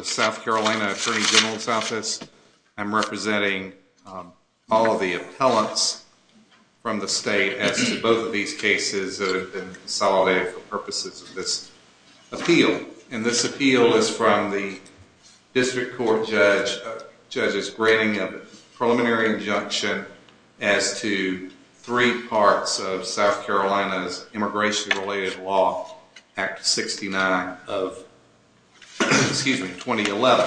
South Carolina Attorney General's Office. I'm representing all of the appellants from the state as to both of these cases that have been consolidated for purposes of this appeal. And this appeal is from the district court judge, judges granting a preliminary injunction as to three parts of South Carolina's immigration related law, Act 69 of 2011.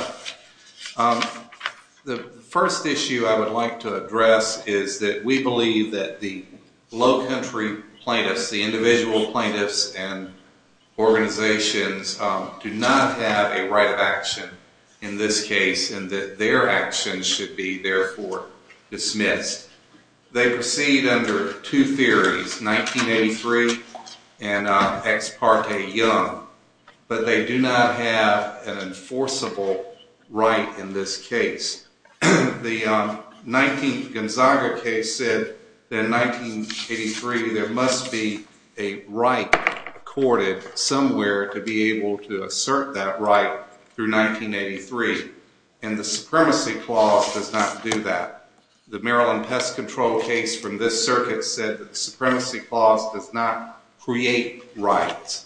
The first issue I would like to address is that we believe that the low country plaintiffs, the individual plaintiffs and organizations do not have a right of action in this case and that their actions should be therefore dismissed. They proceed under two theories, 1983 and Ex parte Young, but they do not have an enforceable right in this case. The 19th Gonzaga case said that in 1983 there must be a right accorded somewhere to be able to do that. The Maryland Pest Control case from this circuit said that the Supremacy Clause does not create rights.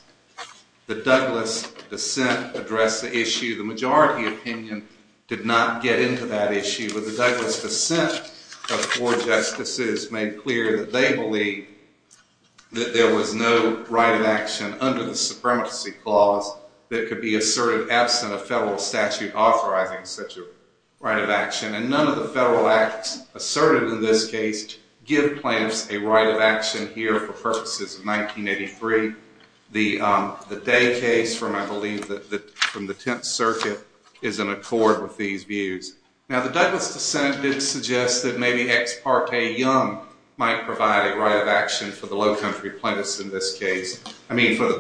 The Douglas dissent addressed the issue. The majority opinion did not get into that issue, but the Douglas dissent of four justices made clear that they believe that there was no right of action under the Supremacy Clause that could be asserted absent a federal statute authorizing such a right of action and none of the federal acts asserted in this case give plaintiffs a right of action here for purposes of 1983. The Day case from I believe the 10th circuit is in accord with these views. Now the Douglas dissent did suggest that maybe Ex parte Young might provide a right of action for the low country plaintiffs in this case, I mean for the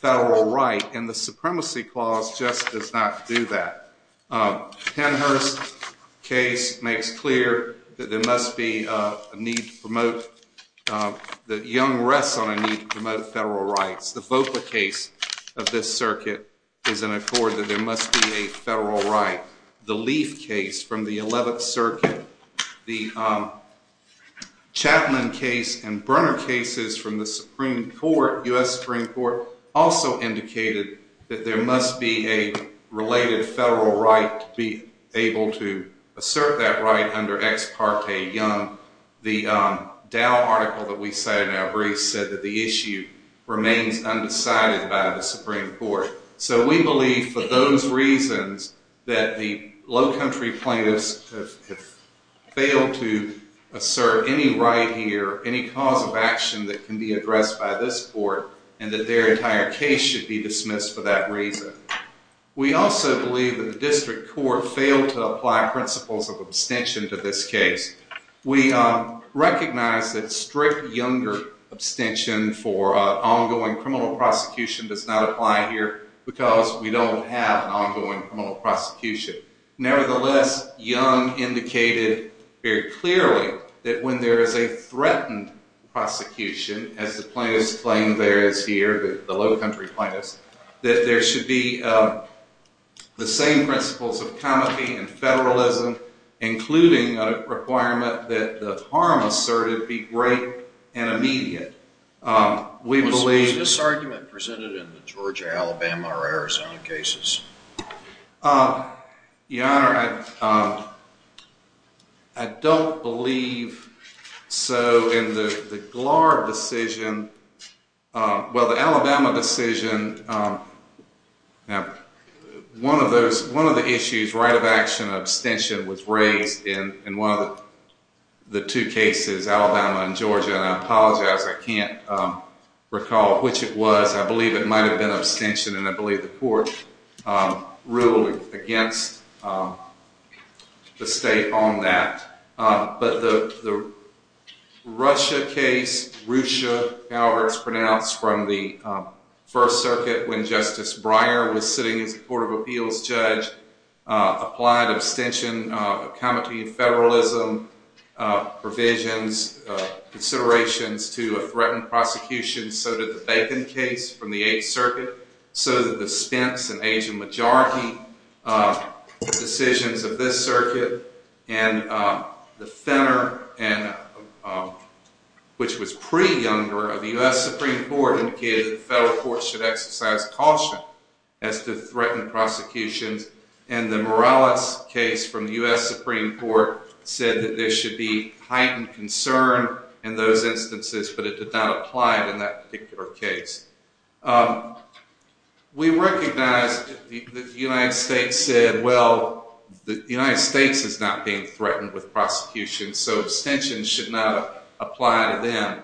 federal right and the Supremacy Clause just does not do that. Pennhurst's case makes clear that there must be a need to promote, that Young rests on a need to promote federal rights. The Volcker case of this circuit is in accord that there must be a federal right. The Leaf case from the 11th circuit, the Chapman case and Brunner cases from the Supreme Court, U.S. Supreme Court, also indicated that there must be a related federal right to be able to assert that right under Ex parte Young. The Dow article that we cited in our briefs said that the issue remains undecided by the Supreme Court. So we believe for those reasons that the low country plaintiffs have failed to assert any right here, any cause of action that can be addressed by this court and that their entire case should be dismissed for that reason. We also believe that the district court failed to apply principles of abstention to this case. We recognize that strict Younger abstention for ongoing criminal prosecution does not apply here because we don't have an ongoing criminal prosecution. Nevertheless, Young indicated very clearly that when there is a threatened prosecution, as the plaintiffs claim there is here, the low country plaintiffs, that there should be the same principles of comity and federalism, including a requirement that the harm asserted be great and immediate. We believe... Your Honor, I don't believe so in the Glard decision. Well, the Alabama decision, one of the issues, right of action, abstention, was raised in one of the two cases, Alabama and Georgia, and I apologize, I can't recall which it was. I believe it might have been abstention, and I believe the court ruled against the state on that. But the Russia case, Russia, however, it's pronounced from the First Circuit when Justice Breyer was sitting as a Court of Appeals judge, applied abstention, comity and federalism provisions, considerations to a threatened prosecution, so did the Bacon case from the Eighth Circuit, so did the Spence and Asian Majority decisions of this circuit, and the Fenner, which was pre-Younger of the U.S. Supreme Court, indicated the federal court should exercise caution as to threatened prosecutions, and the Morales case from the U.S. Supreme Court said that there should be heightened concern in those instances, but it did not apply in that particular case. We recognize that the United States said, well, the United States is not being threatened with prosecution, so abstention should not apply to them.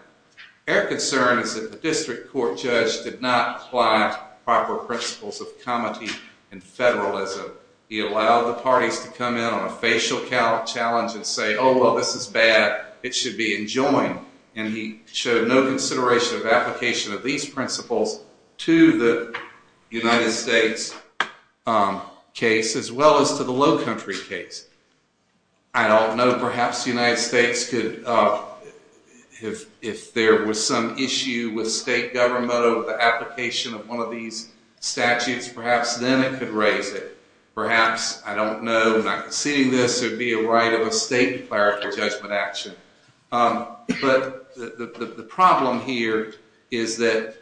Their concern is that the district court judge did not apply proper principles of comity and federalism. He allowed the parties to come in on a facial challenge and say, oh, well, this is bad, it should be enjoined, and he showed no consideration of application of these principles to the United States case, as well as to the Lowcountry case. I don't know, perhaps the United States could, if there was some issue with state government over the application of one of these statutes, perhaps then it could raise it. Perhaps, I don't know, I'm not conceding this, there would be a right of a state clerical judgment action. But the problem here is that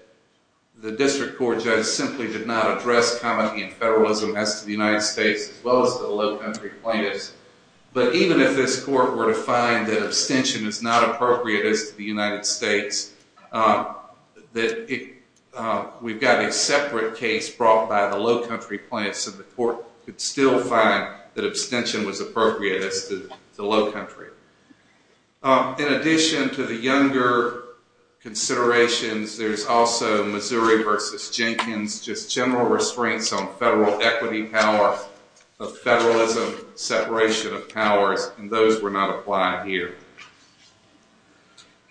the district court judge simply did not address comity and federalism as to the United States, as well as to the Lowcountry plaintiffs. But even if this court were to find that abstention is not appropriate as to the United States, we've got a separate case brought by the Lowcountry plaintiffs, and the court could still find that abstention was appropriate as to the Lowcountry. In addition to the younger considerations, there's also Missouri v. Jenkins, just general restraints on federal equity power, of federalism, separation of powers, and those were not applied here.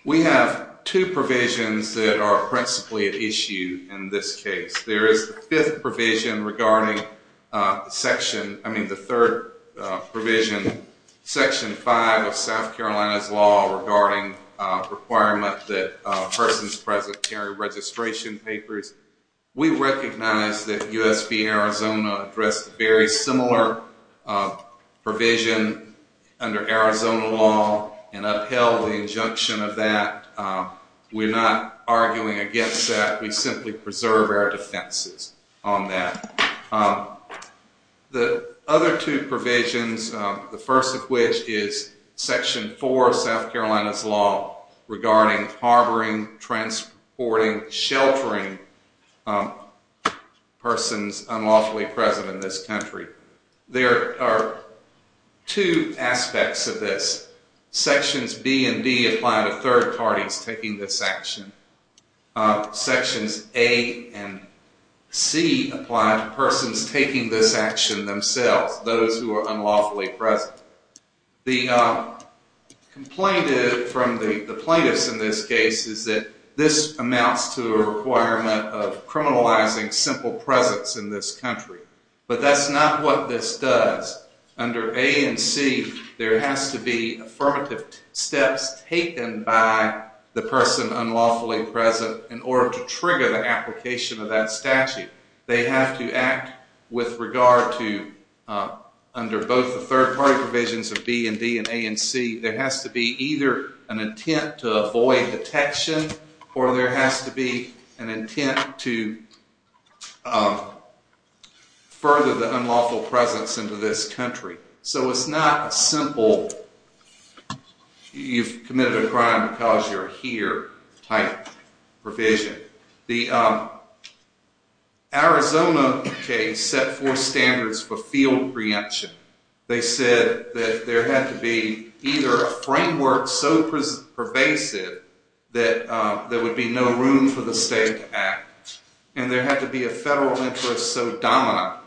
We have two provisions that are principally at issue in this case. There is the fifth provision regarding section, I mean the third provision, section five of South Carolina's law regarding requirement that persons present carry registration papers. We recognize that U.S. v. Arizona addressed a very similar provision under Arizona law and upheld the injunction of that. We're not arguing against that. We simply preserve our defenses on that. The other two provisions, the first of which is section four of South Carolina's law regarding harboring, transporting, sheltering persons unlawfully present in this country. There are two aspects of this. Sections B and D apply to third parties taking this action. Sections A and C apply to persons taking this action themselves, those who are unlawfully present. The complaint from the plaintiffs in this case is that this amounts to a requirement of criminalizing simple presence in this country. But that's not what this does. Under A and C, there has to be affirmative steps taken by the person unlawfully present in order to trigger the application of that statute. They have to act with regard to, under both the third party provisions of B and D and A and C, there has to be either an intent to avoid detection or there has to be an intent to further the unlawful presence into this country. So it's not a simple, you've committed a crime because you're here type provision. The Arizona case set four standards for field preemption. They said that there had to be either a framework so pervasive that there would be no room for the state to act and there had to be a federal interest so dominant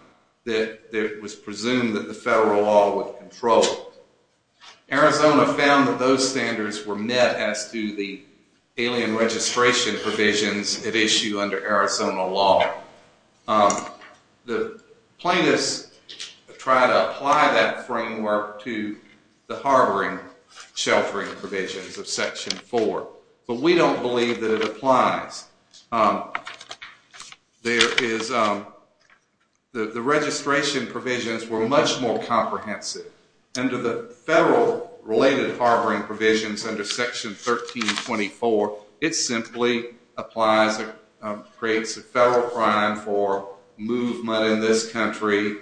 that it was presumed that the federal law would control it. Arizona found that those standards were met as to the alien registration provisions at issue under Arizona law. The plaintiffs try to apply that framework to the harboring sheltering provisions of section four. But we don't believe that it applies. The registration provisions were much more comprehensive. Under the federal related harboring provisions under section 1324, it simply applies or creates a federal crime for movement in this country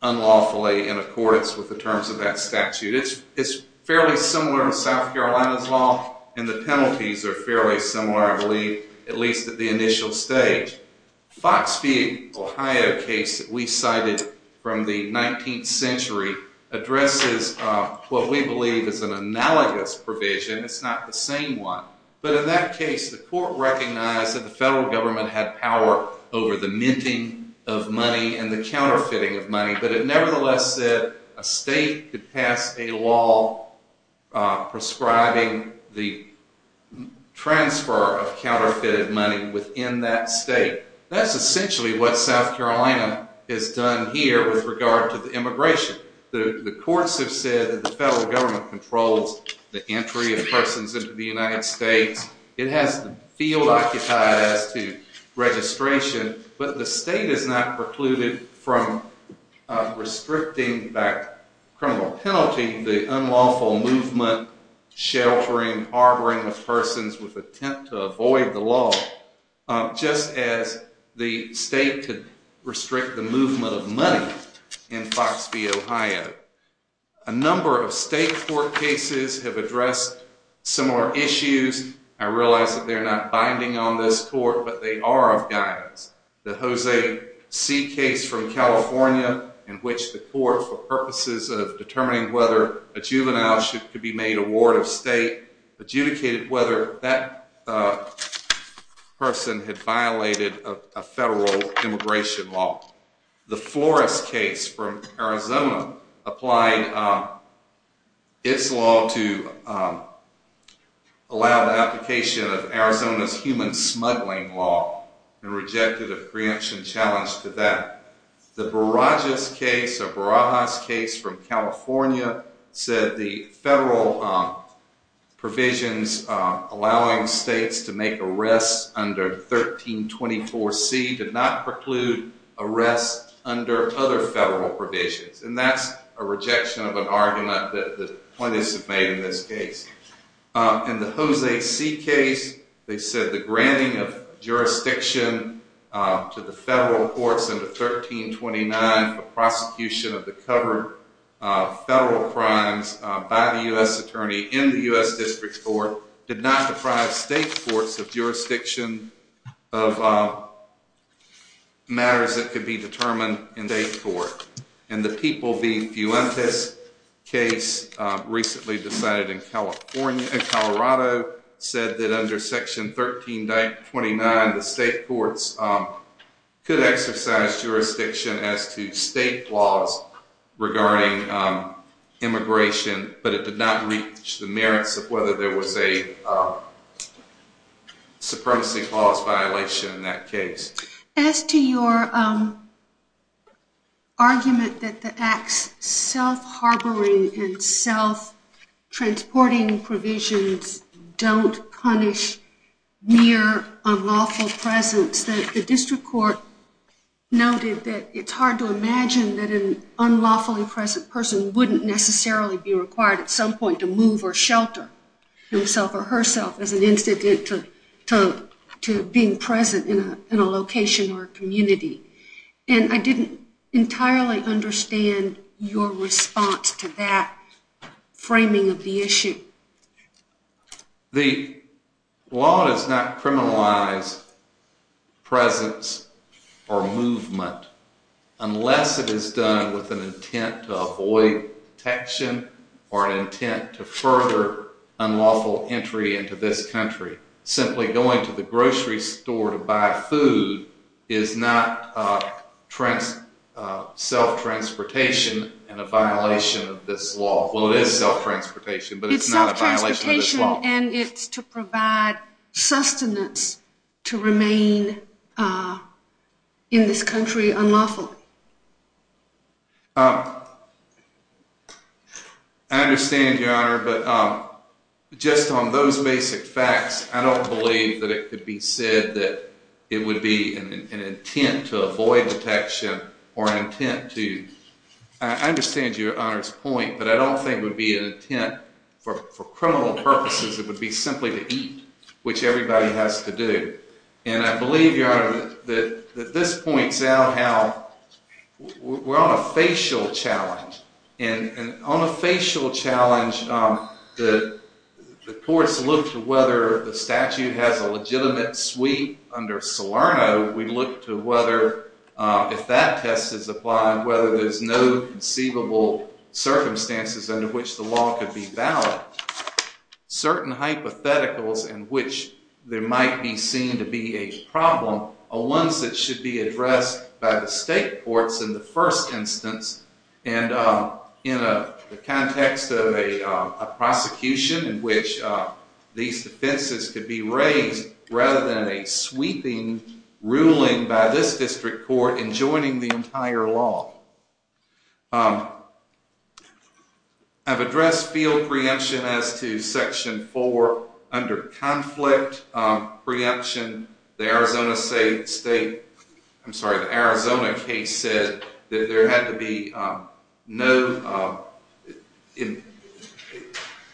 unlawfully in accordance with the terms of that statute. It's fairly similar to South Carolina's law and the penalties are fairly similar, I believe, at least at the initial stage. The Foxfield, Ohio case that we cited from the 19th century addresses what we believe is an analogous provision. It's not the same one. But in that case, the court recognized that the federal government had power over the minting of money and the counterfeiting of money, but it nevertheless said a state could pass a law prescribing the transfer of counterfeited money within that state. That's essentially what South Carolina has done here with regard to the immigration. The courts have said that the federal government controls the entry of persons into the United States. It has the field occupied as to registration, but the state is not precluded from restricting by criminal penalty the unlawful movement sheltering, harboring of persons with intent to avoid the law, just as the state could restrict the movement of money in Foxfield, Ohio. A number of state court cases have addressed similar issues. I realize that they're not binding on this court, but they are of guidance. The Jose C. case from California in which the court, for purposes of determining whether a juvenile could be made a ward of state, adjudicated whether that person had violated a federal immigration law. The Flores case from Arizona applied its law to allow the human smuggling law and rejected a preemption challenge to that. The Barajas case from California said the federal provisions allowing states to make arrests under 1324C did not preclude arrests under other federal provisions, and that's a rejection of an argument that was made in this case. In the Jose C. case, they said the granting of jurisdiction to the federal courts under 1329 for prosecution of the covered federal crimes by the U.S. attorney in the U.S. District Court did not deprive state courts of jurisdiction of matters that could be violated in California. And Colorado said that under section 1329, the state courts could exercise jurisdiction as to state laws regarding immigration, but it did not reach the merits of whether there was a supremacy clause violation in that case. As to your argument that the acts self-harboring and self-transporting provisions don't punish mere unlawful presence, the District Court noted that it's hard to imagine that an unlawfully present person wouldn't necessarily be required at some point to move or shelter himself or herself as an unlawfully present in a location or community. And I didn't entirely understand your response to that framing of the issue. The law does not criminalize presence or movement unless it is done with an intent to avoid detection or an intent to further unlawful entry into this store to buy food is not self-transportation and a violation of this law. Well, it is self-transportation, but it's not a violation of this law. It's self-transportation and it's to provide sustenance to remain in this country unlawfully. I understand, Your Honor, but just on those basic facts, I don't believe that it could be said that it would be an intent to avoid detection or an intent to… I understand Your Honor's point, but I don't think it would be an intent for criminal purposes. It would be simply to eat, which everybody has to do. And I believe, Your Honor, that this points out how we're on a facial challenge. And on a facial challenge, the courts look to whether the statute has a legitimate sweep under Salerno. We look to whether if that test is applied, whether there's no conceivable circumstances under which the law could be valid. Certain hypotheticals in which there might be seen to be a problem are ones that should be addressed by the state courts in the first instance. And in the context of a prosecution in which these defenses could be raised rather than a sweeping ruling by this district court in joining the entire law. I've addressed field preemption as to Section 4 under conflict preemption. The Arizona case said that there had to be no… It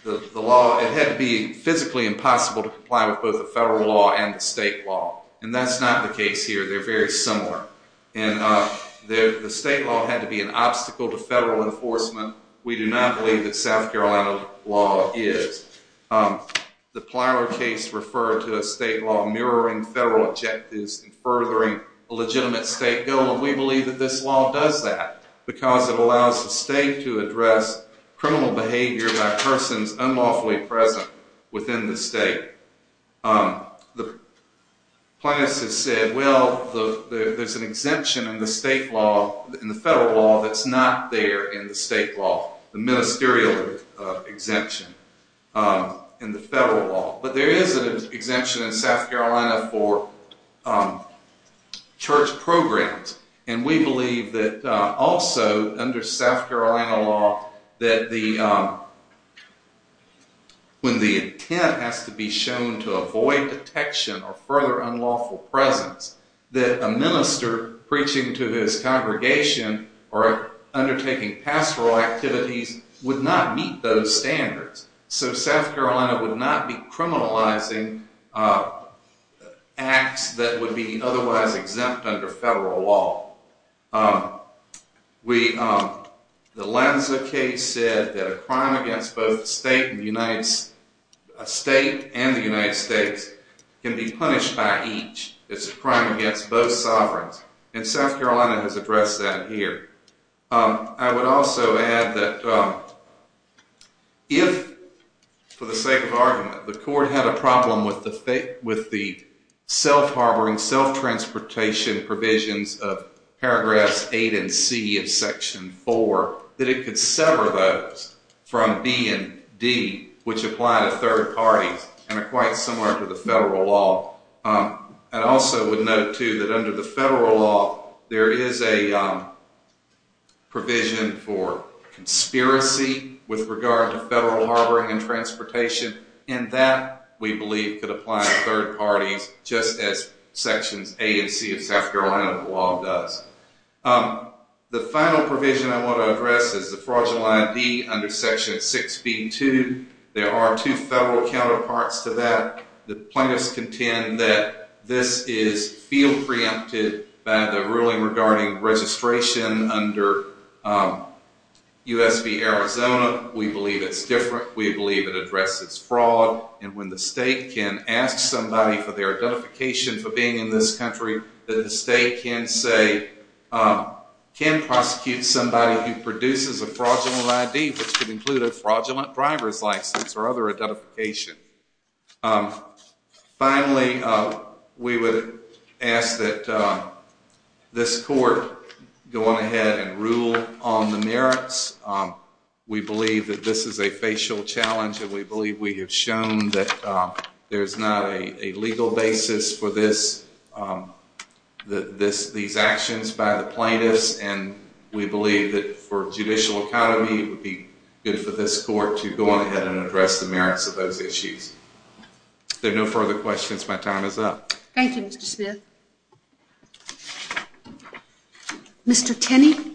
had to be physically impossible to comply with both the federal law and the state law. And that's not the case here. They're very similar. And the state law had to be an obstacle to federal enforcement. We do not believe that South Carolina law is. The Plyler case referred to a state law mirroring federal objectives and furthering a legitimate state goal. And we believe that this law does that, because it allows the state to address criminal behavior by persons unlawfully present within the state. The plaintiffs have said, well, there's an exemption in the federal law that's not there in the state law, the ministerial exemption in the federal law. But there is an exemption in South Carolina for church programs. And we believe that also under South Carolina law that when the intent has to be shown to avoid detection or further unlawful presence, that a minister preaching to his congregation or undertaking pastoral activities would not meet those standards. So South Carolina would not be criminalizing acts that would be otherwise exempt under federal law. The Lanza case said that a crime against both the state and the United States can be punished by each. It's a crime against both sovereigns. And South Carolina has addressed that here. I would also add that if, for the sake of argument, the court had a problem with the self-harboring, self-transportation provisions of paragraphs 8 and C of section 4, that it could sever those from B and D, which apply to third parties and are quite similar to the federal law. I also would note, too, that under the federal law, there is a provision for conspiracy with regard to federal harboring and transportation. And that, we believe, could apply to third parties just as sections A and C of South Carolina law does. The final provision I want to address is the fraudulent ID under section 6B2. There are two federal counterparts to that. The plaintiffs contend that this is field preempted by the ruling regarding registration under U.S. v. Arizona. We believe it's different. We believe it addresses fraud. And when the state can ask somebody for their identification for being in this country, that the state can say, can prosecute somebody who produces a fraudulent ID, which could include a fraudulent driver's license or other identification. Finally, we would ask that this court go on ahead and rule on the merits. We believe that this is a facial challenge, and we believe we have shown that there's not a legal basis for these actions by the plaintiffs. And we believe that for judicial economy, it would be good for this court to go on ahead and address the merits of those issues. If there are no further questions, my time is up. Thank you, Mr. Smith. Mr. Tenney?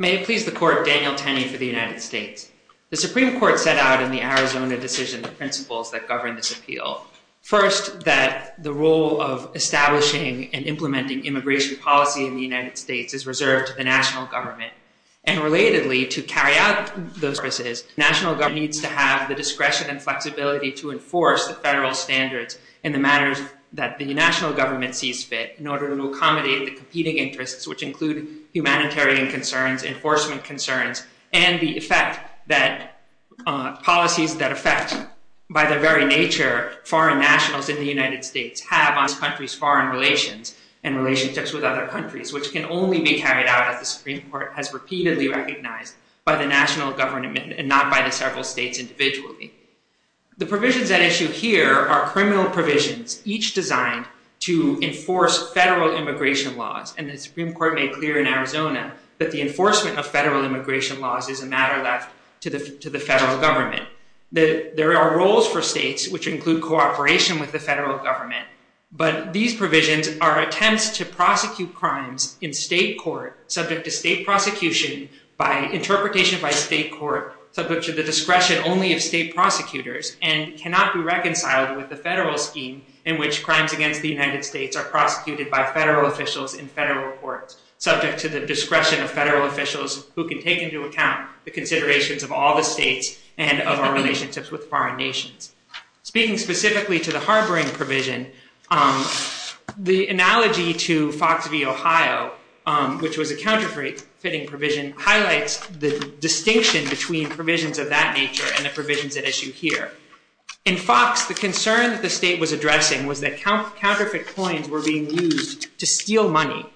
May it please the Court, Daniel Tenney for the United States. The Supreme Court set out in the Arizona decision the principles that govern this appeal. First, that the role of establishing and implementing immigration policy in the United States is reserved to the national government. And relatedly, to carry out those services, national government needs to have the discretion and flexibility to enforce the federal standards in the matters that the national government sees fit, in order to accommodate the competing interests, which include humanitarian concerns, enforcement concerns, and the effect that policies that affect, by their very nature, foreign nationals in the United States have on this country's foreign relations and relationships with other countries, which can only be carried out, as the Supreme Court has repeatedly recognized, by the national government and not by the several states individually. The provisions at issue here are criminal provisions, each designed to enforce federal immigration laws. And the Supreme Court made clear in Arizona that the enforcement of federal immigration laws is a matter left to the federal government. There are roles for states, which include cooperation with the federal government, but these provisions are attempts to prosecute crimes in state court, subject to state prosecution, by interpretation by state court, subject to the discretion only of state prosecutors, and cannot be reconciled with the federal scheme, in which crimes against the United States are prosecuted by federal officials in federal courts, subject to the discretion of federal officials, who can take into account the considerations of all the states and of our relationships with foreign nations. Speaking specifically to the harboring provision, the analogy to Fox v. Ohio, which was a counterfeiting provision, highlights the distinction between provisions of that nature and the provisions at issue here. In Fox, the concern that the state was addressing was that counterfeit coins were being used to steal money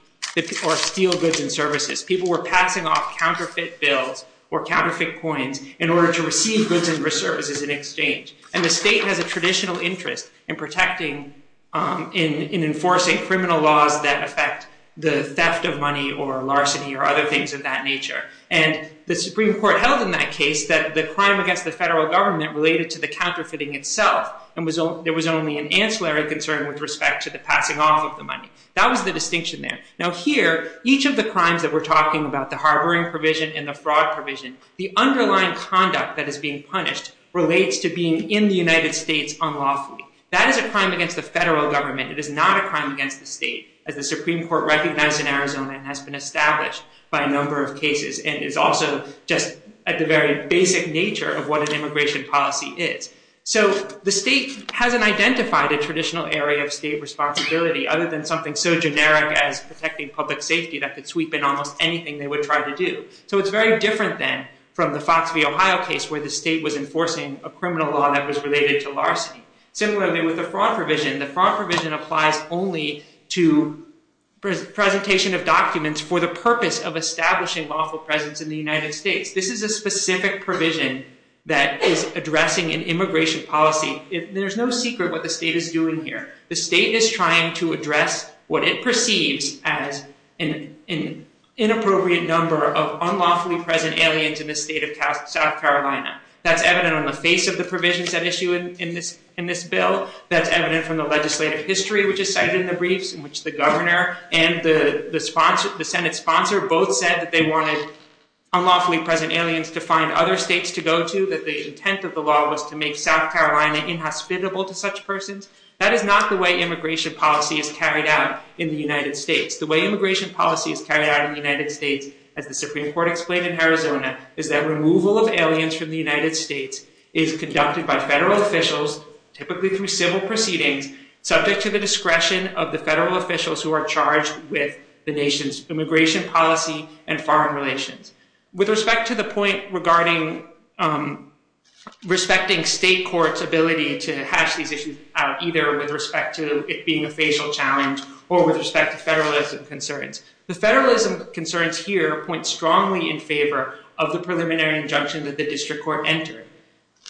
or steal goods and services. People were passing off counterfeit bills or counterfeit coins in order to receive goods and services in exchange. And the state has a traditional interest in protecting and enforcing criminal laws that affect the theft of money or larceny or other things of that nature. And the Supreme Court held in that case that the crime against the federal government related to the counterfeiting itself, and there was only an ancillary concern with respect to the passing off of the money. That was the distinction there. Now here, each of the crimes that we're talking about, the harboring provision and the fraud provision, the underlying conduct that is being punished relates to being in the United States unlawfully. That is a crime against the federal government. It is not a crime against the state, as the Supreme Court recognized in Arizona and has been established by a number of cases. And it's also just at the very basic nature of what an immigration policy is. So the state hasn't identified a traditional area of state responsibility other than something so generic as protecting public safety that could sweep in almost anything they would try to do. So it's very different then from the Fox v. Ohio case where the state was enforcing a criminal law that was related to larceny. Similarly, with the fraud provision, the fraud provision applies only to presentation of documents for the purpose of establishing lawful presence in the United States. This is a specific provision that is addressing an immigration policy. There's no secret what the state is doing here. The state is trying to address what it perceives as an inappropriate number of unlawfully present aliens in the state of South Carolina. That's evident on the face of the provisions that issue in this bill. That's evident from the legislative history which is cited in the briefs in which the governor and the Senate sponsor both said that they wanted unlawfully present aliens to find other states to go to, that the intent of the law was to make South Carolina inhospitable to such persons. That is not the way immigration policy is carried out in the United States. The way immigration policy is carried out in the United States, as the Supreme Court explained in Arizona, is that removal of aliens from the United States is conducted by federal officials, typically through civil proceedings, subject to the discretion of the federal officials who are charged with the nation's immigration policy and foreign relations. With respect to the point regarding respecting state courts' ability to hash these issues out, either with respect to it being a facial challenge or with respect to federalism concerns, the federalism concerns here point strongly in favor of the preliminary injunction that the district court entered.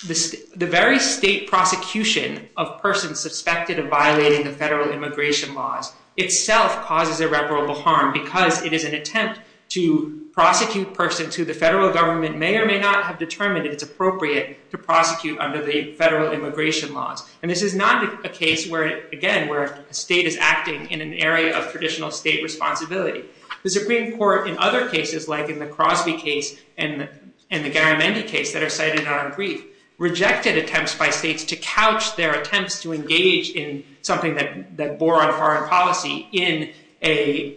The very state prosecution of persons suspected of violating the federal immigration laws itself causes irreparable harm because it is an attempt to prosecute persons who the federal government may or may not have determined it's appropriate to prosecute under the federal immigration laws. And this is not a case where, again, where a state is acting in an area of traditional state responsibility. The Supreme Court, in other cases, like in the Crosby case and the Garamendi case that are cited in our brief, rejected attempts by states to couch their attempts to engage in something that bore on foreign policy in a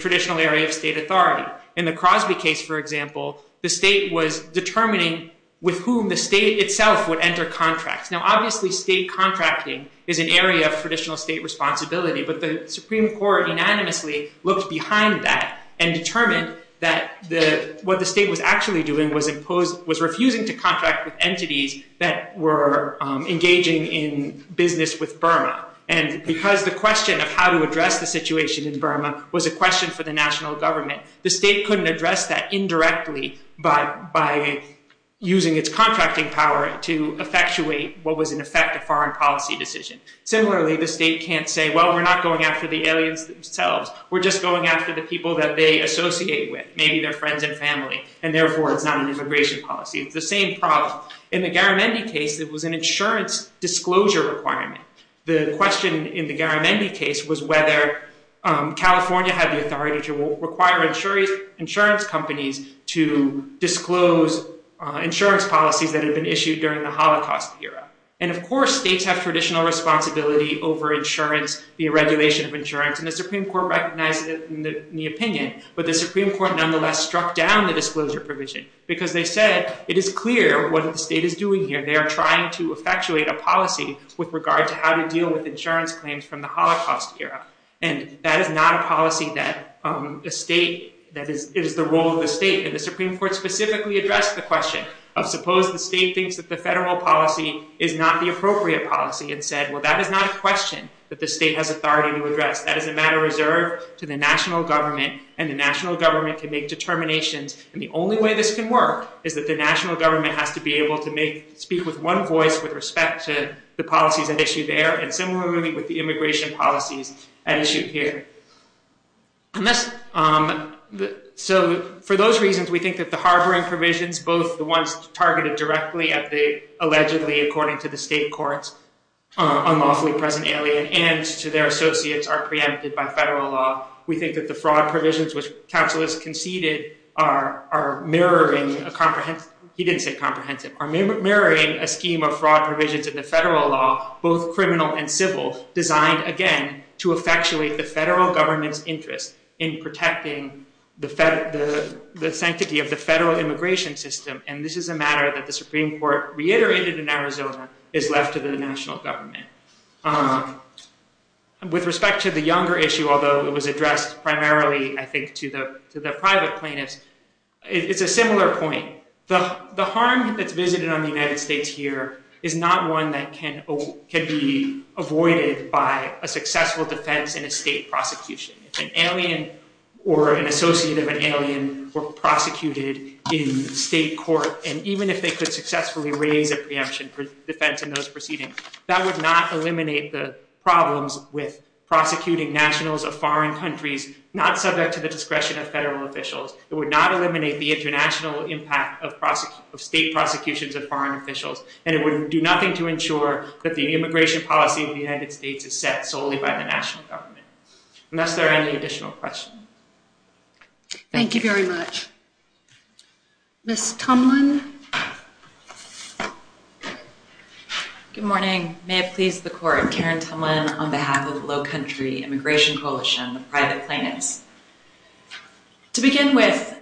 traditional area of state authority. In the Crosby case, for example, the state was determining with whom the state itself would enter contracts. Now, obviously, state contracting is an area of traditional state responsibility, but the Supreme Court unanimously looked behind that and determined that what the state was actually doing was refusing to contract with entities that were engaging in business with Burma. And because the question of how to address the situation in Burma was a question for the national government, the state couldn't address that indirectly by using its contracting power to effectuate what was, in effect, a foreign policy decision. Similarly, the state can't say, well, we're not going after the aliens themselves, we're just going after the people that they associate with, maybe their friends and family, and therefore it's not an immigration policy. It's the same problem. In the Garamendi case, it was an insurance disclosure requirement. The question in the Garamendi case was whether California had the authority to require insurance companies to disclose insurance policies that had been issued during the Holocaust era. And, of course, states have traditional responsibility over insurance, the regulation of insurance, and the Supreme Court recognized it in the opinion, but the Supreme Court nonetheless struck down the disclosure provision because they said it is clear what the state is doing here. They are trying to effectuate a policy with regard to how to deal with insurance claims from the Holocaust era. And that is not a policy that is the role of the state. And the Supreme Court specifically addressed the question of, suppose the state thinks that the federal policy is not the appropriate policy, and said, well, that is not a question that the state has authority to address. That is a matter reserved to the national government, and the national government can make determinations. And the only way this can work is that the national government has to be able to speak with one voice with respect to the policies at issue there, and similarly with the immigration policies at issue here. So, for those reasons, we think that the harboring provisions, both the ones targeted directly at the allegedly, according to the state courts, unlawfully present alien, and to their associates are preempted by federal law. We think that the fraud provisions, which counsel has conceded, are mirroring a comprehensive, he didn't say comprehensive, are mirroring a scheme of fraud provisions in the federal law, both criminal and civil, designed, again, to effectuate the federal government's interest in protecting the sanctity of the federal immigration system. And this is a matter that the Supreme Court reiterated in Arizona is left to the national government. With respect to the younger issue, although it was addressed primarily, I think, to the private plaintiffs, it's a similar point. The harm that's visited on the United States here is not one that can be avoided by a successful defense in a state prosecution. If an alien or an associate of an alien were prosecuted in state court, and even if they could successfully raise a preemption for defense in those proceedings, that would not eliminate the problems with prosecuting nationals of foreign countries not subject to the discretion of federal officials. It would not eliminate the international impact of state prosecutions of foreign officials, and it would do nothing to ensure that the immigration policy of the United States is set solely by the national government. Unless there are any additional questions. Thank you very much. Ms. Tumlin? Good morning. May it please the court, Karen Tumlin on behalf of the Low Country Immigration Coalition, the private plaintiffs. To begin with,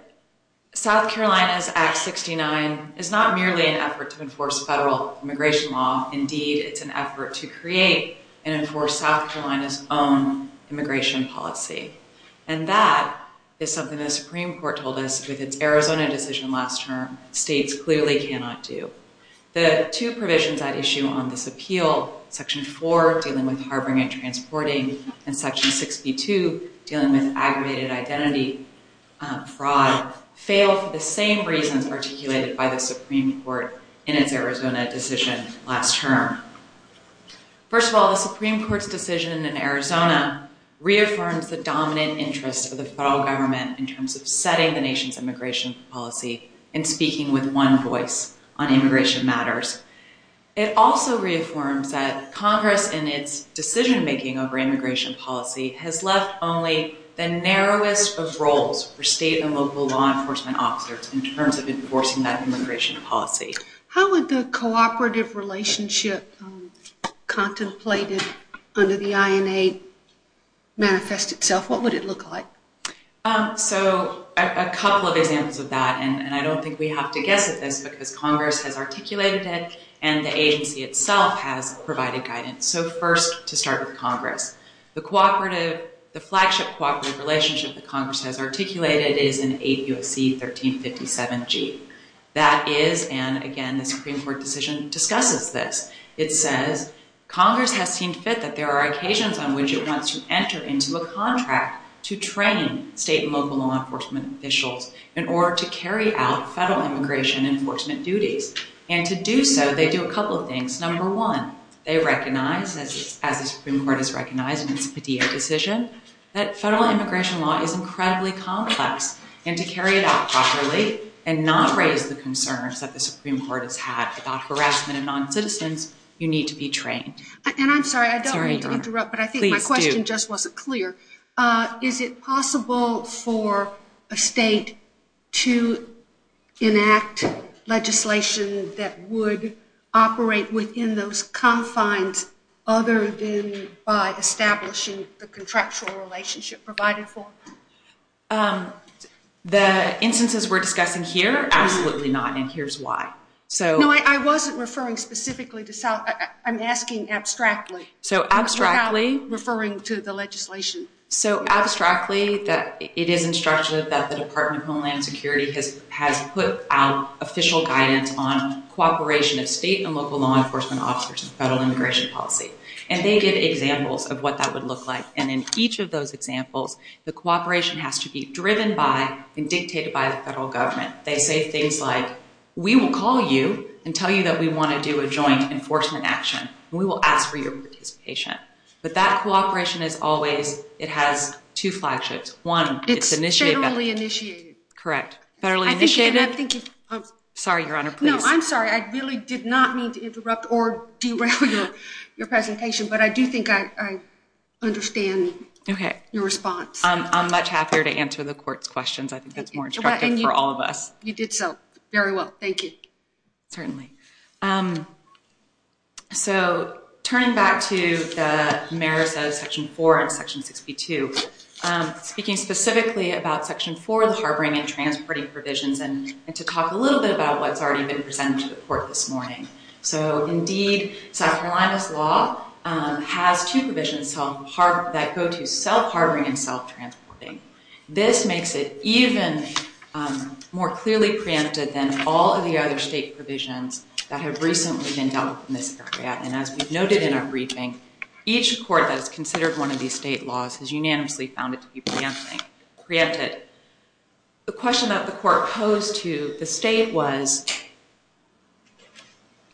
South Carolina's Act 69 is not merely an effort to enforce federal immigration law. Indeed, it's an effort to create and enforce South Carolina's own immigration policy. And that is something the Supreme Court told us with its Arizona decision last term states clearly cannot do. The two provisions at issue on this appeal, Section 4, dealing with harboring and transporting, and Section 62, dealing with aggravated identity fraud, fail for the same reasons articulated by the Supreme Court in its Arizona decision last term. First of all, the Supreme Court's decision in Arizona reaffirms the dominant interest of the federal government in terms of setting the nation's immigration policy and speaking with one voice on immigration matters. It also reaffirms that Congress in its decision-making over immigration policy has left only the narrowest of roles for state and local law enforcement officers in terms of enforcing that immigration policy. How would the cooperative relationship contemplated under the INA manifest itself? What would it look like? So a couple of examples of that, and I don't think we have to guess at this because Congress has articulated it and the agency itself has provided guidance. So first, to start with Congress. The flagship cooperative relationship that Congress has articulated is in 8 U.S.C. 1357G. That is, and again, the Supreme Court decision discusses this. It says, Congress has seen fit that there are occasions on which it wants to enter into a contract to train state and local law enforcement officials in order to carry out federal immigration enforcement duties. And to do so, they do a couple of things. Number one, they recognize, as the Supreme Court has recognized in its Padilla decision, that federal immigration law is incredibly complex, and to carry it out properly and not raise the concerns that the Supreme Court has had about harassment of noncitizens, you need to be trained. And I'm sorry, I don't mean to interrupt, but I think my question just wasn't clear. Is it possible for a state to enact legislation that would operate within those confines other than by establishing the contractual relationship provided for? The instances we're discussing here, absolutely not, and here's why. No, I wasn't referring specifically to South, I'm asking abstractly. So abstractly. Referring to the legislation. So abstractly, it is instructed that the Department of Homeland Security has put out official guidance on cooperation of state and local law enforcement officers in federal immigration policy, and they give examples of what that would look like. And in each of those examples, the cooperation has to be driven by and dictated by the federal government. They say things like, we will call you and tell you that we want to do a joint enforcement action, and we will ask for your participation. But that cooperation is always, it has two flagships. One, it's initiated. It's federally initiated. Correct. Federally initiated. Sorry, Your Honor, please. No, I'm sorry. I really did not mean to interrupt or derail your presentation, but I do think I understand your response. I'm much happier to answer the court's questions. I think that's more instructive for all of us. You did so very well. Thank you. Certainly. So turning back to the merits of Section 4 and Section 62, speaking specifically about Section 4, the harboring and transporting provisions, and to talk a little bit about what's already been presented to the court this morning. So, indeed, South Carolina's law has two provisions that go to self-harboring and self-transporting. This makes it even more clearly preempted than all of the other state provisions that have recently been dealt with in this area. And as we've noted in our briefing, each court that has considered one of these state laws has unanimously found it to be preempted. The question that the court posed to the state was,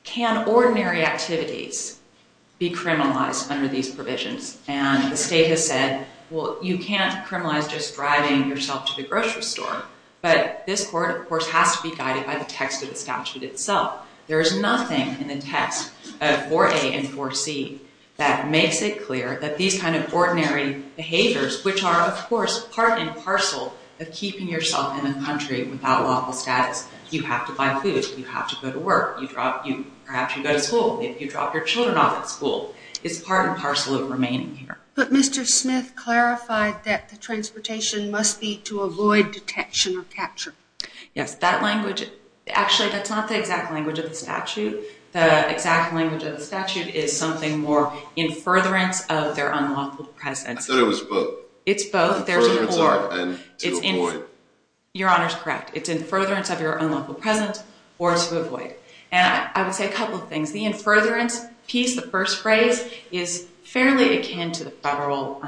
can ordinary activities be criminalized under these provisions? And the state has said, well, you can't criminalize just driving yourself to the grocery store. But this court, of course, has to be guided by the text of the statute itself. There is nothing in the text of 4A and 4C that makes it clear that these kind of ordinary behaviors, which are, of course, part and parcel of keeping yourself in the country without lawful status. You have to buy food. You have to go to work. Perhaps you go to school. If you drop your children off at school, it's part and parcel of remaining here. But Mr. Smith clarified that the transportation must be to avoid detection or capture. Yes, that language, actually, that's not the exact language of the statute. The exact language of the statute is something more in furtherance of their unlawful presence. I thought it was both. It's both. In furtherance of and to avoid. Your Honor's correct. It's in furtherance of your unlawful presence or to avoid. And I would say a couple of things. The in furtherance piece, the first phrase, is fairly akin to the federal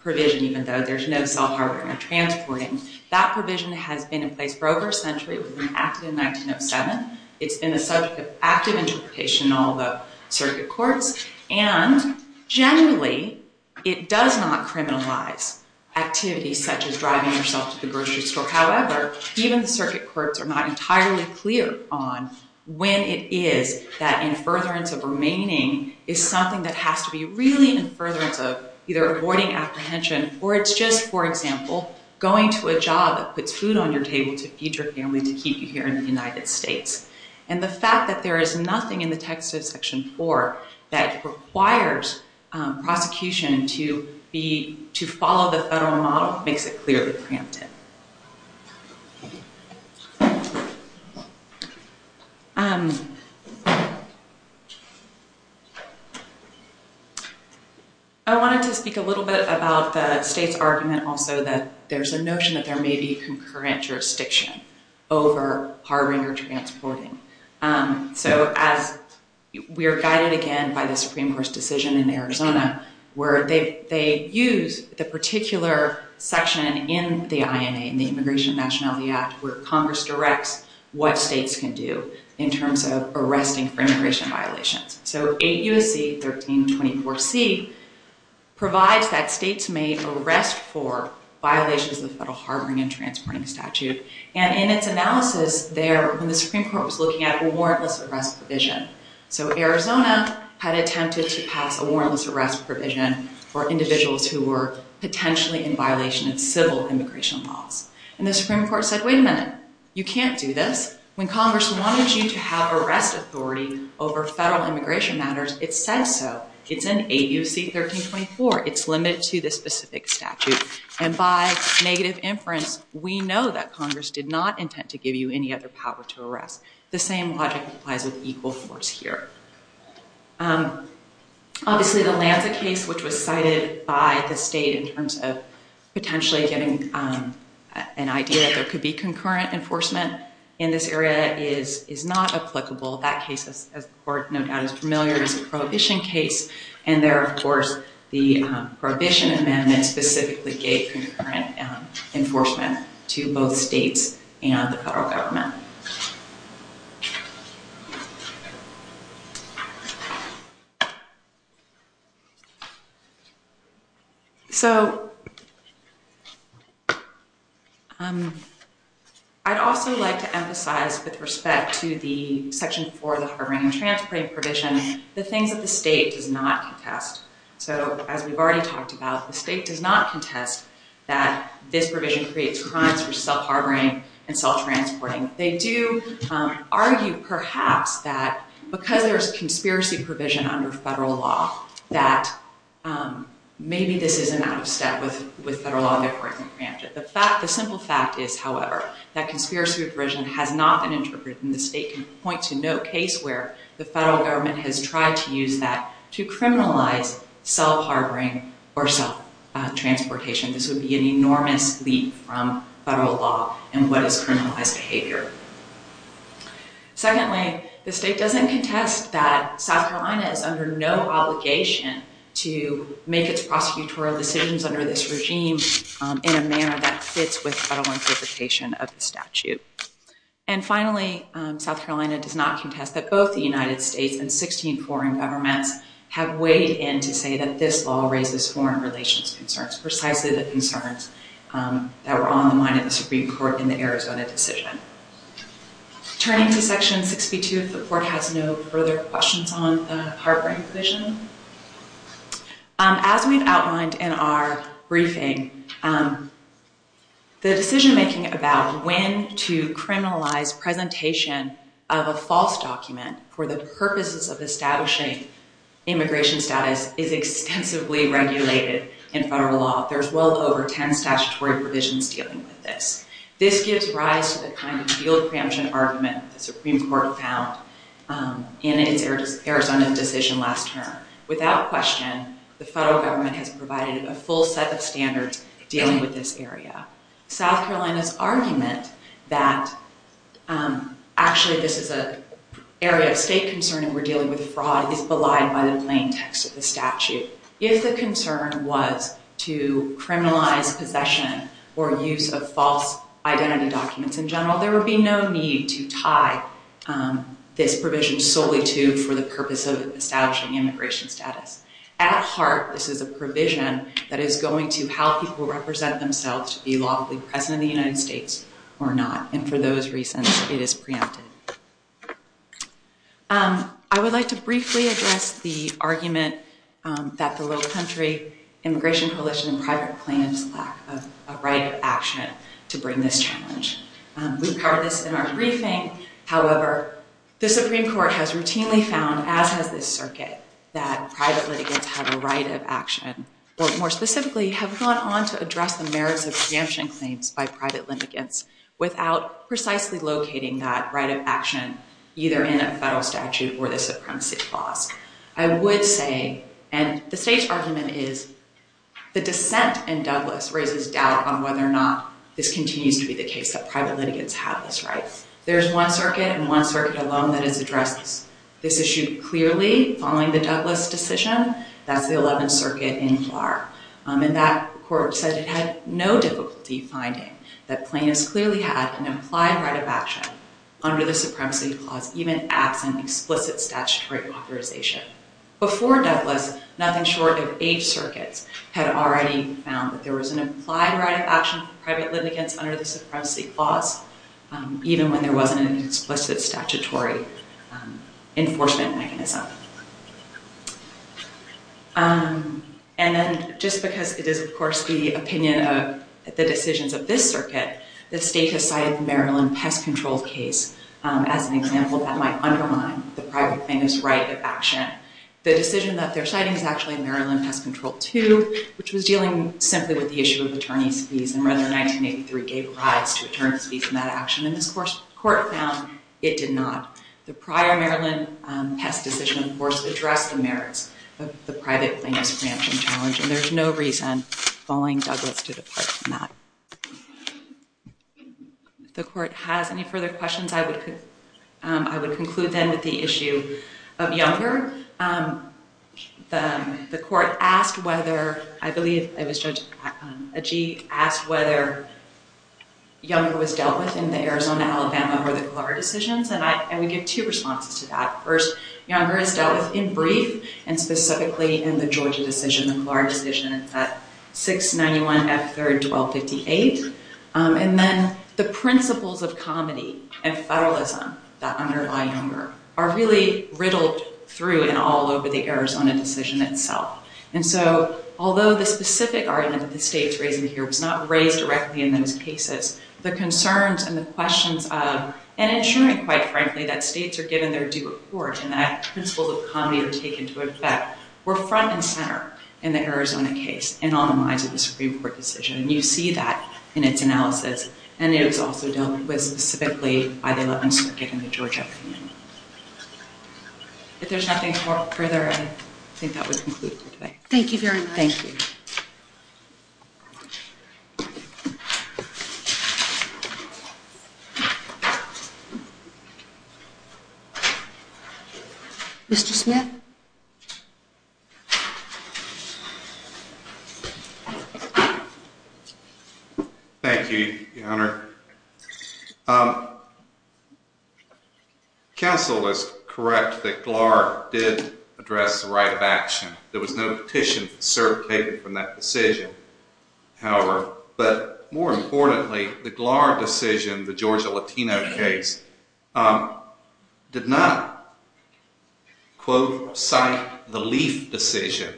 provision, even though there's no self-harboring or transporting. That provision has been in place for over a century. It was enacted in 1907. It's been the subject of active interpretation in all the circuit courts. And generally, it does not criminalize activities such as driving yourself to the grocery store. However, even the circuit courts are not entirely clear on when it is that in furtherance of remaining is something that has to be really in furtherance of either avoiding apprehension or it's just, for example, going to a job that puts food on your table to feed your family to keep you here in the United States. And the fact that there is nothing in the text of Section 4 that requires prosecution to follow the federal model makes it clearly preemptive. I wanted to speak a little bit about the state's argument also that there's a notion that there may be concurrent jurisdiction over harboring or transporting. So as we are guided again by the Supreme Court's decision in Arizona, where they use the particular section in the INA, in the Immigration and Nationality Act, where Congress directs what states can do in terms of arresting for immigration violations. So 8 U.S.C. 1324C provides that states may arrest for violations of the federal harboring and transporting statute. And in its analysis there, when the Supreme Court was looking at a warrantless arrest provision, so Arizona had attempted to pass a warrantless arrest provision for individuals who were potentially in violation of civil immigration laws. And the Supreme Court said, wait a minute. You can't do this. When Congress wanted you to have arrest authority over federal immigration matters, it said so. It's in 8 U.S.C. 1324. It's limited to this specific statute. And by negative inference, we know that Congress did not intend to give you any other power to arrest. The same logic applies with equal force here. Obviously, the Lanza case, which was cited by the state in terms of potentially getting an idea that there could be concurrent enforcement in this area, is not applicable. That case, as the Court no doubt is familiar, is a prohibition case. And there, of course, the prohibition amendment specifically gave concurrent enforcement to both states and the federal government. So I'd also like to emphasize with respect to the Section 4 of the harboring and transporting provision, the things that the state does not contest. So as we've already talked about, the state does not contest that this provision creates crimes for self-harboring and self-transporting. They do argue, perhaps, that because there's conspiracy provision under federal law, that maybe this is an out of step with federal law. The simple fact is, however, that conspiracy provision has not been interpreted and the state can point to no case where the federal government has tried to use that to criminalize self-harboring or self-transportation. This would be an enormous leap from federal law in what is criminalized behavior. Secondly, the state doesn't contest that South Carolina is under no obligation to make its prosecutorial decisions under this regime in a manner that fits with federal interpretation of the statute. And finally, South Carolina does not contest that both the United States and 16 foreign governments have weighed in to say that this law raises foreign relations concerns, precisely the concerns that were on the mind of the Supreme Court in the Arizona decision. Turning to Section 62, the Court has no further questions on the harboring provision. As we've outlined in our briefing, the decision making about when to criminalize presentation of a false document for the purposes of establishing immigration status is extensively regulated in federal law. There's well over 10 statutory provisions dealing with this. This gives rise to the kind of field preemption argument the Supreme Court found in its Arizona decision last term. Without question, the federal government has provided a full set of standards dealing with this area. South Carolina's argument that actually this is an area of state concern and we're dealing with fraud is belied by the plain text of the statute. If the concern was to criminalize possession or use of false identity documents in general, there would be no need to tie this provision solely to for the purpose of establishing immigration status. At heart, this is a provision that is going to help people represent themselves to be lawfully president of the United States or not. And for those reasons, it is preempted. I would like to briefly address the argument that the Lowcountry Immigration Coalition has challenged in private plaintiffs' lack of a right of action to bring this challenge. We've covered this in our briefing. However, the Supreme Court has routinely found, as has this circuit, that private litigants have a right of action or, more specifically, have gone on to address the merits of preemption claims by private litigants without precisely locating that right of action either in a federal statute or the supremacy clause. I would say, and the state's argument is, the dissent in Douglas raises doubt on whether or not this continues to be the case, that private litigants have this right. There's one circuit and one circuit alone that has addressed this issue clearly following the Douglas decision. That's the 11th Circuit in Farr. And that court said it had no difficulty finding that plaintiffs clearly had an implied right of action under the supremacy clause, even absent explicit statutory authorization. Before Douglas, nothing short of eight circuits had already found that there was an implied right of action for private litigants under the supremacy clause, even when there wasn't an explicit statutory enforcement mechanism. And then, just because it is, of course, the opinion of the decisions of this circuit, the state has cited the Maryland Pest Control case as an example that might undermine the private plaintiff's right of action. The decision that they're citing is actually Maryland Pest Control 2, which was dealing simply with the issue of attorney's fees. And rather, 1983 gave rise to attorney's fees in that action. And this court found it did not. The prior Maryland Pest Decision, of course, addressed the merits of the private plaintiff's preemption challenge. And there's no reason following Douglas to depart from that. If the court has any further questions, I would conclude then with the issue of Younger. The court asked whether, I believe it was Judge Agee, asked whether Younger was dealt with in the Arizona-Alabama or the Golara decisions. And I would give two responses to that. First, Younger is dealt with in brief, and specifically in the Georgia decision, the Golara decision at 691 F. 3rd, 1258. And then, the principles of comedy and federalism that underlie Younger are really riddled through and all over the Arizona decision itself. And so, although the specific argument that the state's raising here was not raised directly in those cases, the concerns and the questions of, and ensuring, quite frankly, that states are given their due report and that principles of comedy are taken into effect were front and center in the Arizona case and on the lines of the Supreme Court decision. And you see that in its analysis. And it was also dealt with specifically by the 11th Circuit and the Georgia community. If there's nothing further, I think that would conclude for today. Thank you very much. Thank you. Mr. Smith? Thank you, Your Honor. Counsel is correct that Golara did address the right of action. There was no petition certificated from that decision, however. But more importantly, the Golara decision, the Georgia Latino case, did not, quote, cite the Leaf decision.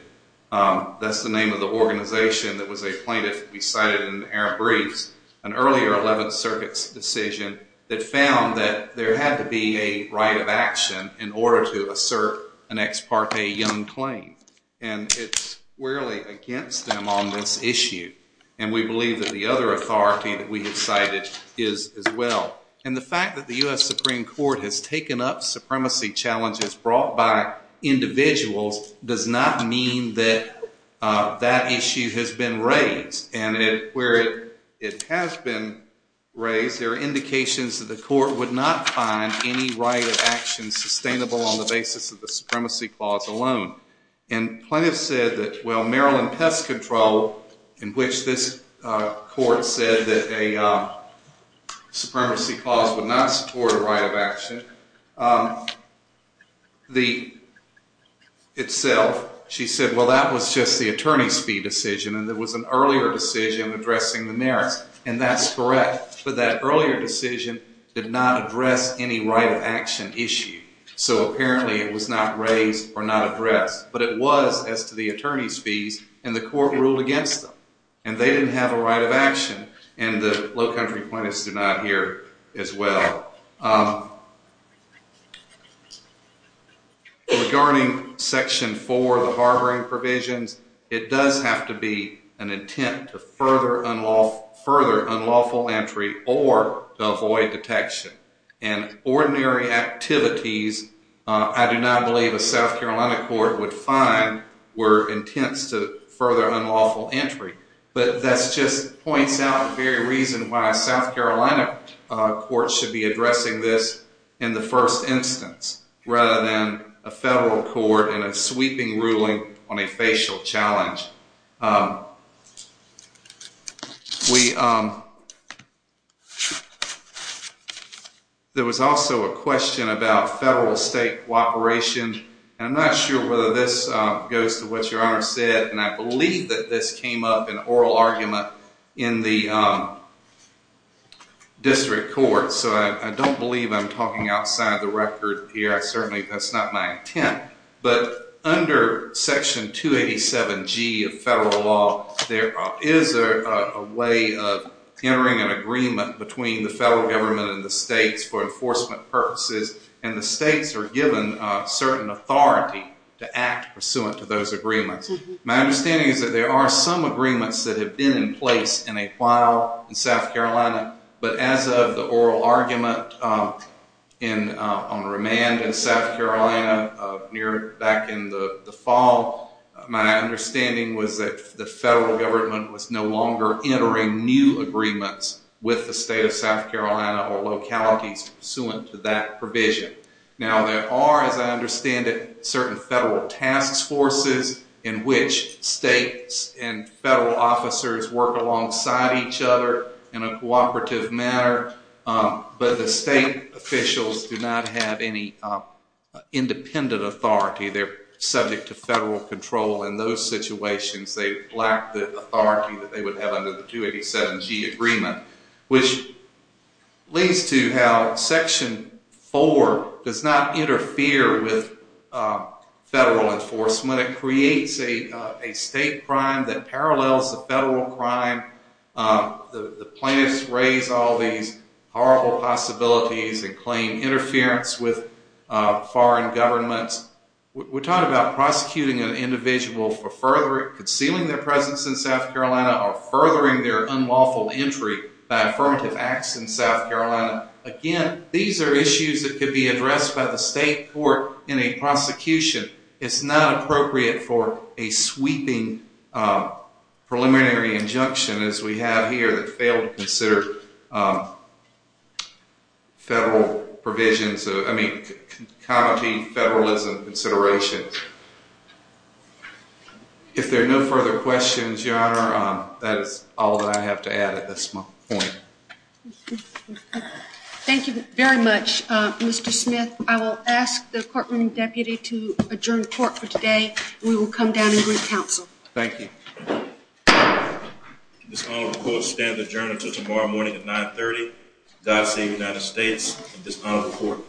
That's the name of the organization that was a plaintiff. We cited in the Aram briefs an earlier 11th Circuit's decision that found that there had to be a right of action in order to assert an ex parte Young claim. And it's really against them on this issue. And we believe that the other authority that we have cited is as well. And the fact that the U.S. Supreme Court has taken up supremacy challenges brought by individuals does not mean that that issue has been raised. And where it has been raised, there are indications that the court would not find any right of action sustainable on the basis of the supremacy clause alone. And plaintiffs said that, well, Maryland Pest Control, in which this court said that a supremacy clause would not support a right of action, itself, she said, well, that was just the attorney's fee decision and there was an earlier decision addressing the merits. And that's correct. But that earlier decision did not address any right of action issue. So apparently it was not raised or not addressed. But it was as to the attorney's fees. And the court ruled against them. And they didn't have a right of action. And the low country plaintiffs did not hear as well. Regarding Section 4, the harboring provisions, it does have to be an intent to further unlawful entry or to avoid detection. And ordinary activities I do not believe a South Carolina court would find were intense to further unlawful entry. But that just points out the very reason why a South Carolina court should be addressing this in the first instance, rather than a federal court in a sweeping ruling on a facial challenge. There was also a question about federal-state cooperation. And I'm not sure whether this goes to what Your Honor said. And I believe that this came up in oral argument in the district court. So I don't believe I'm talking outside the record here. Certainly that's not my intent. But under Section 287G of federal law, there is a way of entering an agreement between the federal government and the states for enforcement purposes. And the states are given certain authority to act pursuant to those agreements. My understanding is that there are some agreements that have been in place in a while in South Carolina. But as of the oral argument on remand in South Carolina back in the fall, my understanding was that the federal government was no longer entering new agreements with the state of South Carolina or localities pursuant to that provision. Now, there are, as I understand it, certain federal task forces in which states and federal officers work alongside each other in a cooperative manner. But the state officials do not have any independent authority. They're subject to federal control. In those situations, they lack the authority that they would have under the 287G agreement, which leads to how Section 4 does not interfere with federal enforcement. It creates a state crime that parallels the federal crime. The plaintiffs raise all these horrible possibilities and claim interference with foreign governments. We're talking about prosecuting an individual for furthering, concealing their presence in South Carolina or furthering their unlawful entry by affirmative acts in South Carolina. Again, these are issues that could be addressed by the state court in a prosecution. It's not appropriate for a sweeping preliminary injunction, as we have here, that failed to consider federal provisions, I mean, commenting federalism considerations. Thank you. If there are no further questions, Your Honor, that is all that I have to add at this point. Thank you very much, Mr. Smith. I will ask the courtroom deputy to adjourn court for today. We will come down and re-counsel. Thank you. This honorable court stands adjourned until tomorrow morning at 9.30. God save the United States of this honorable court.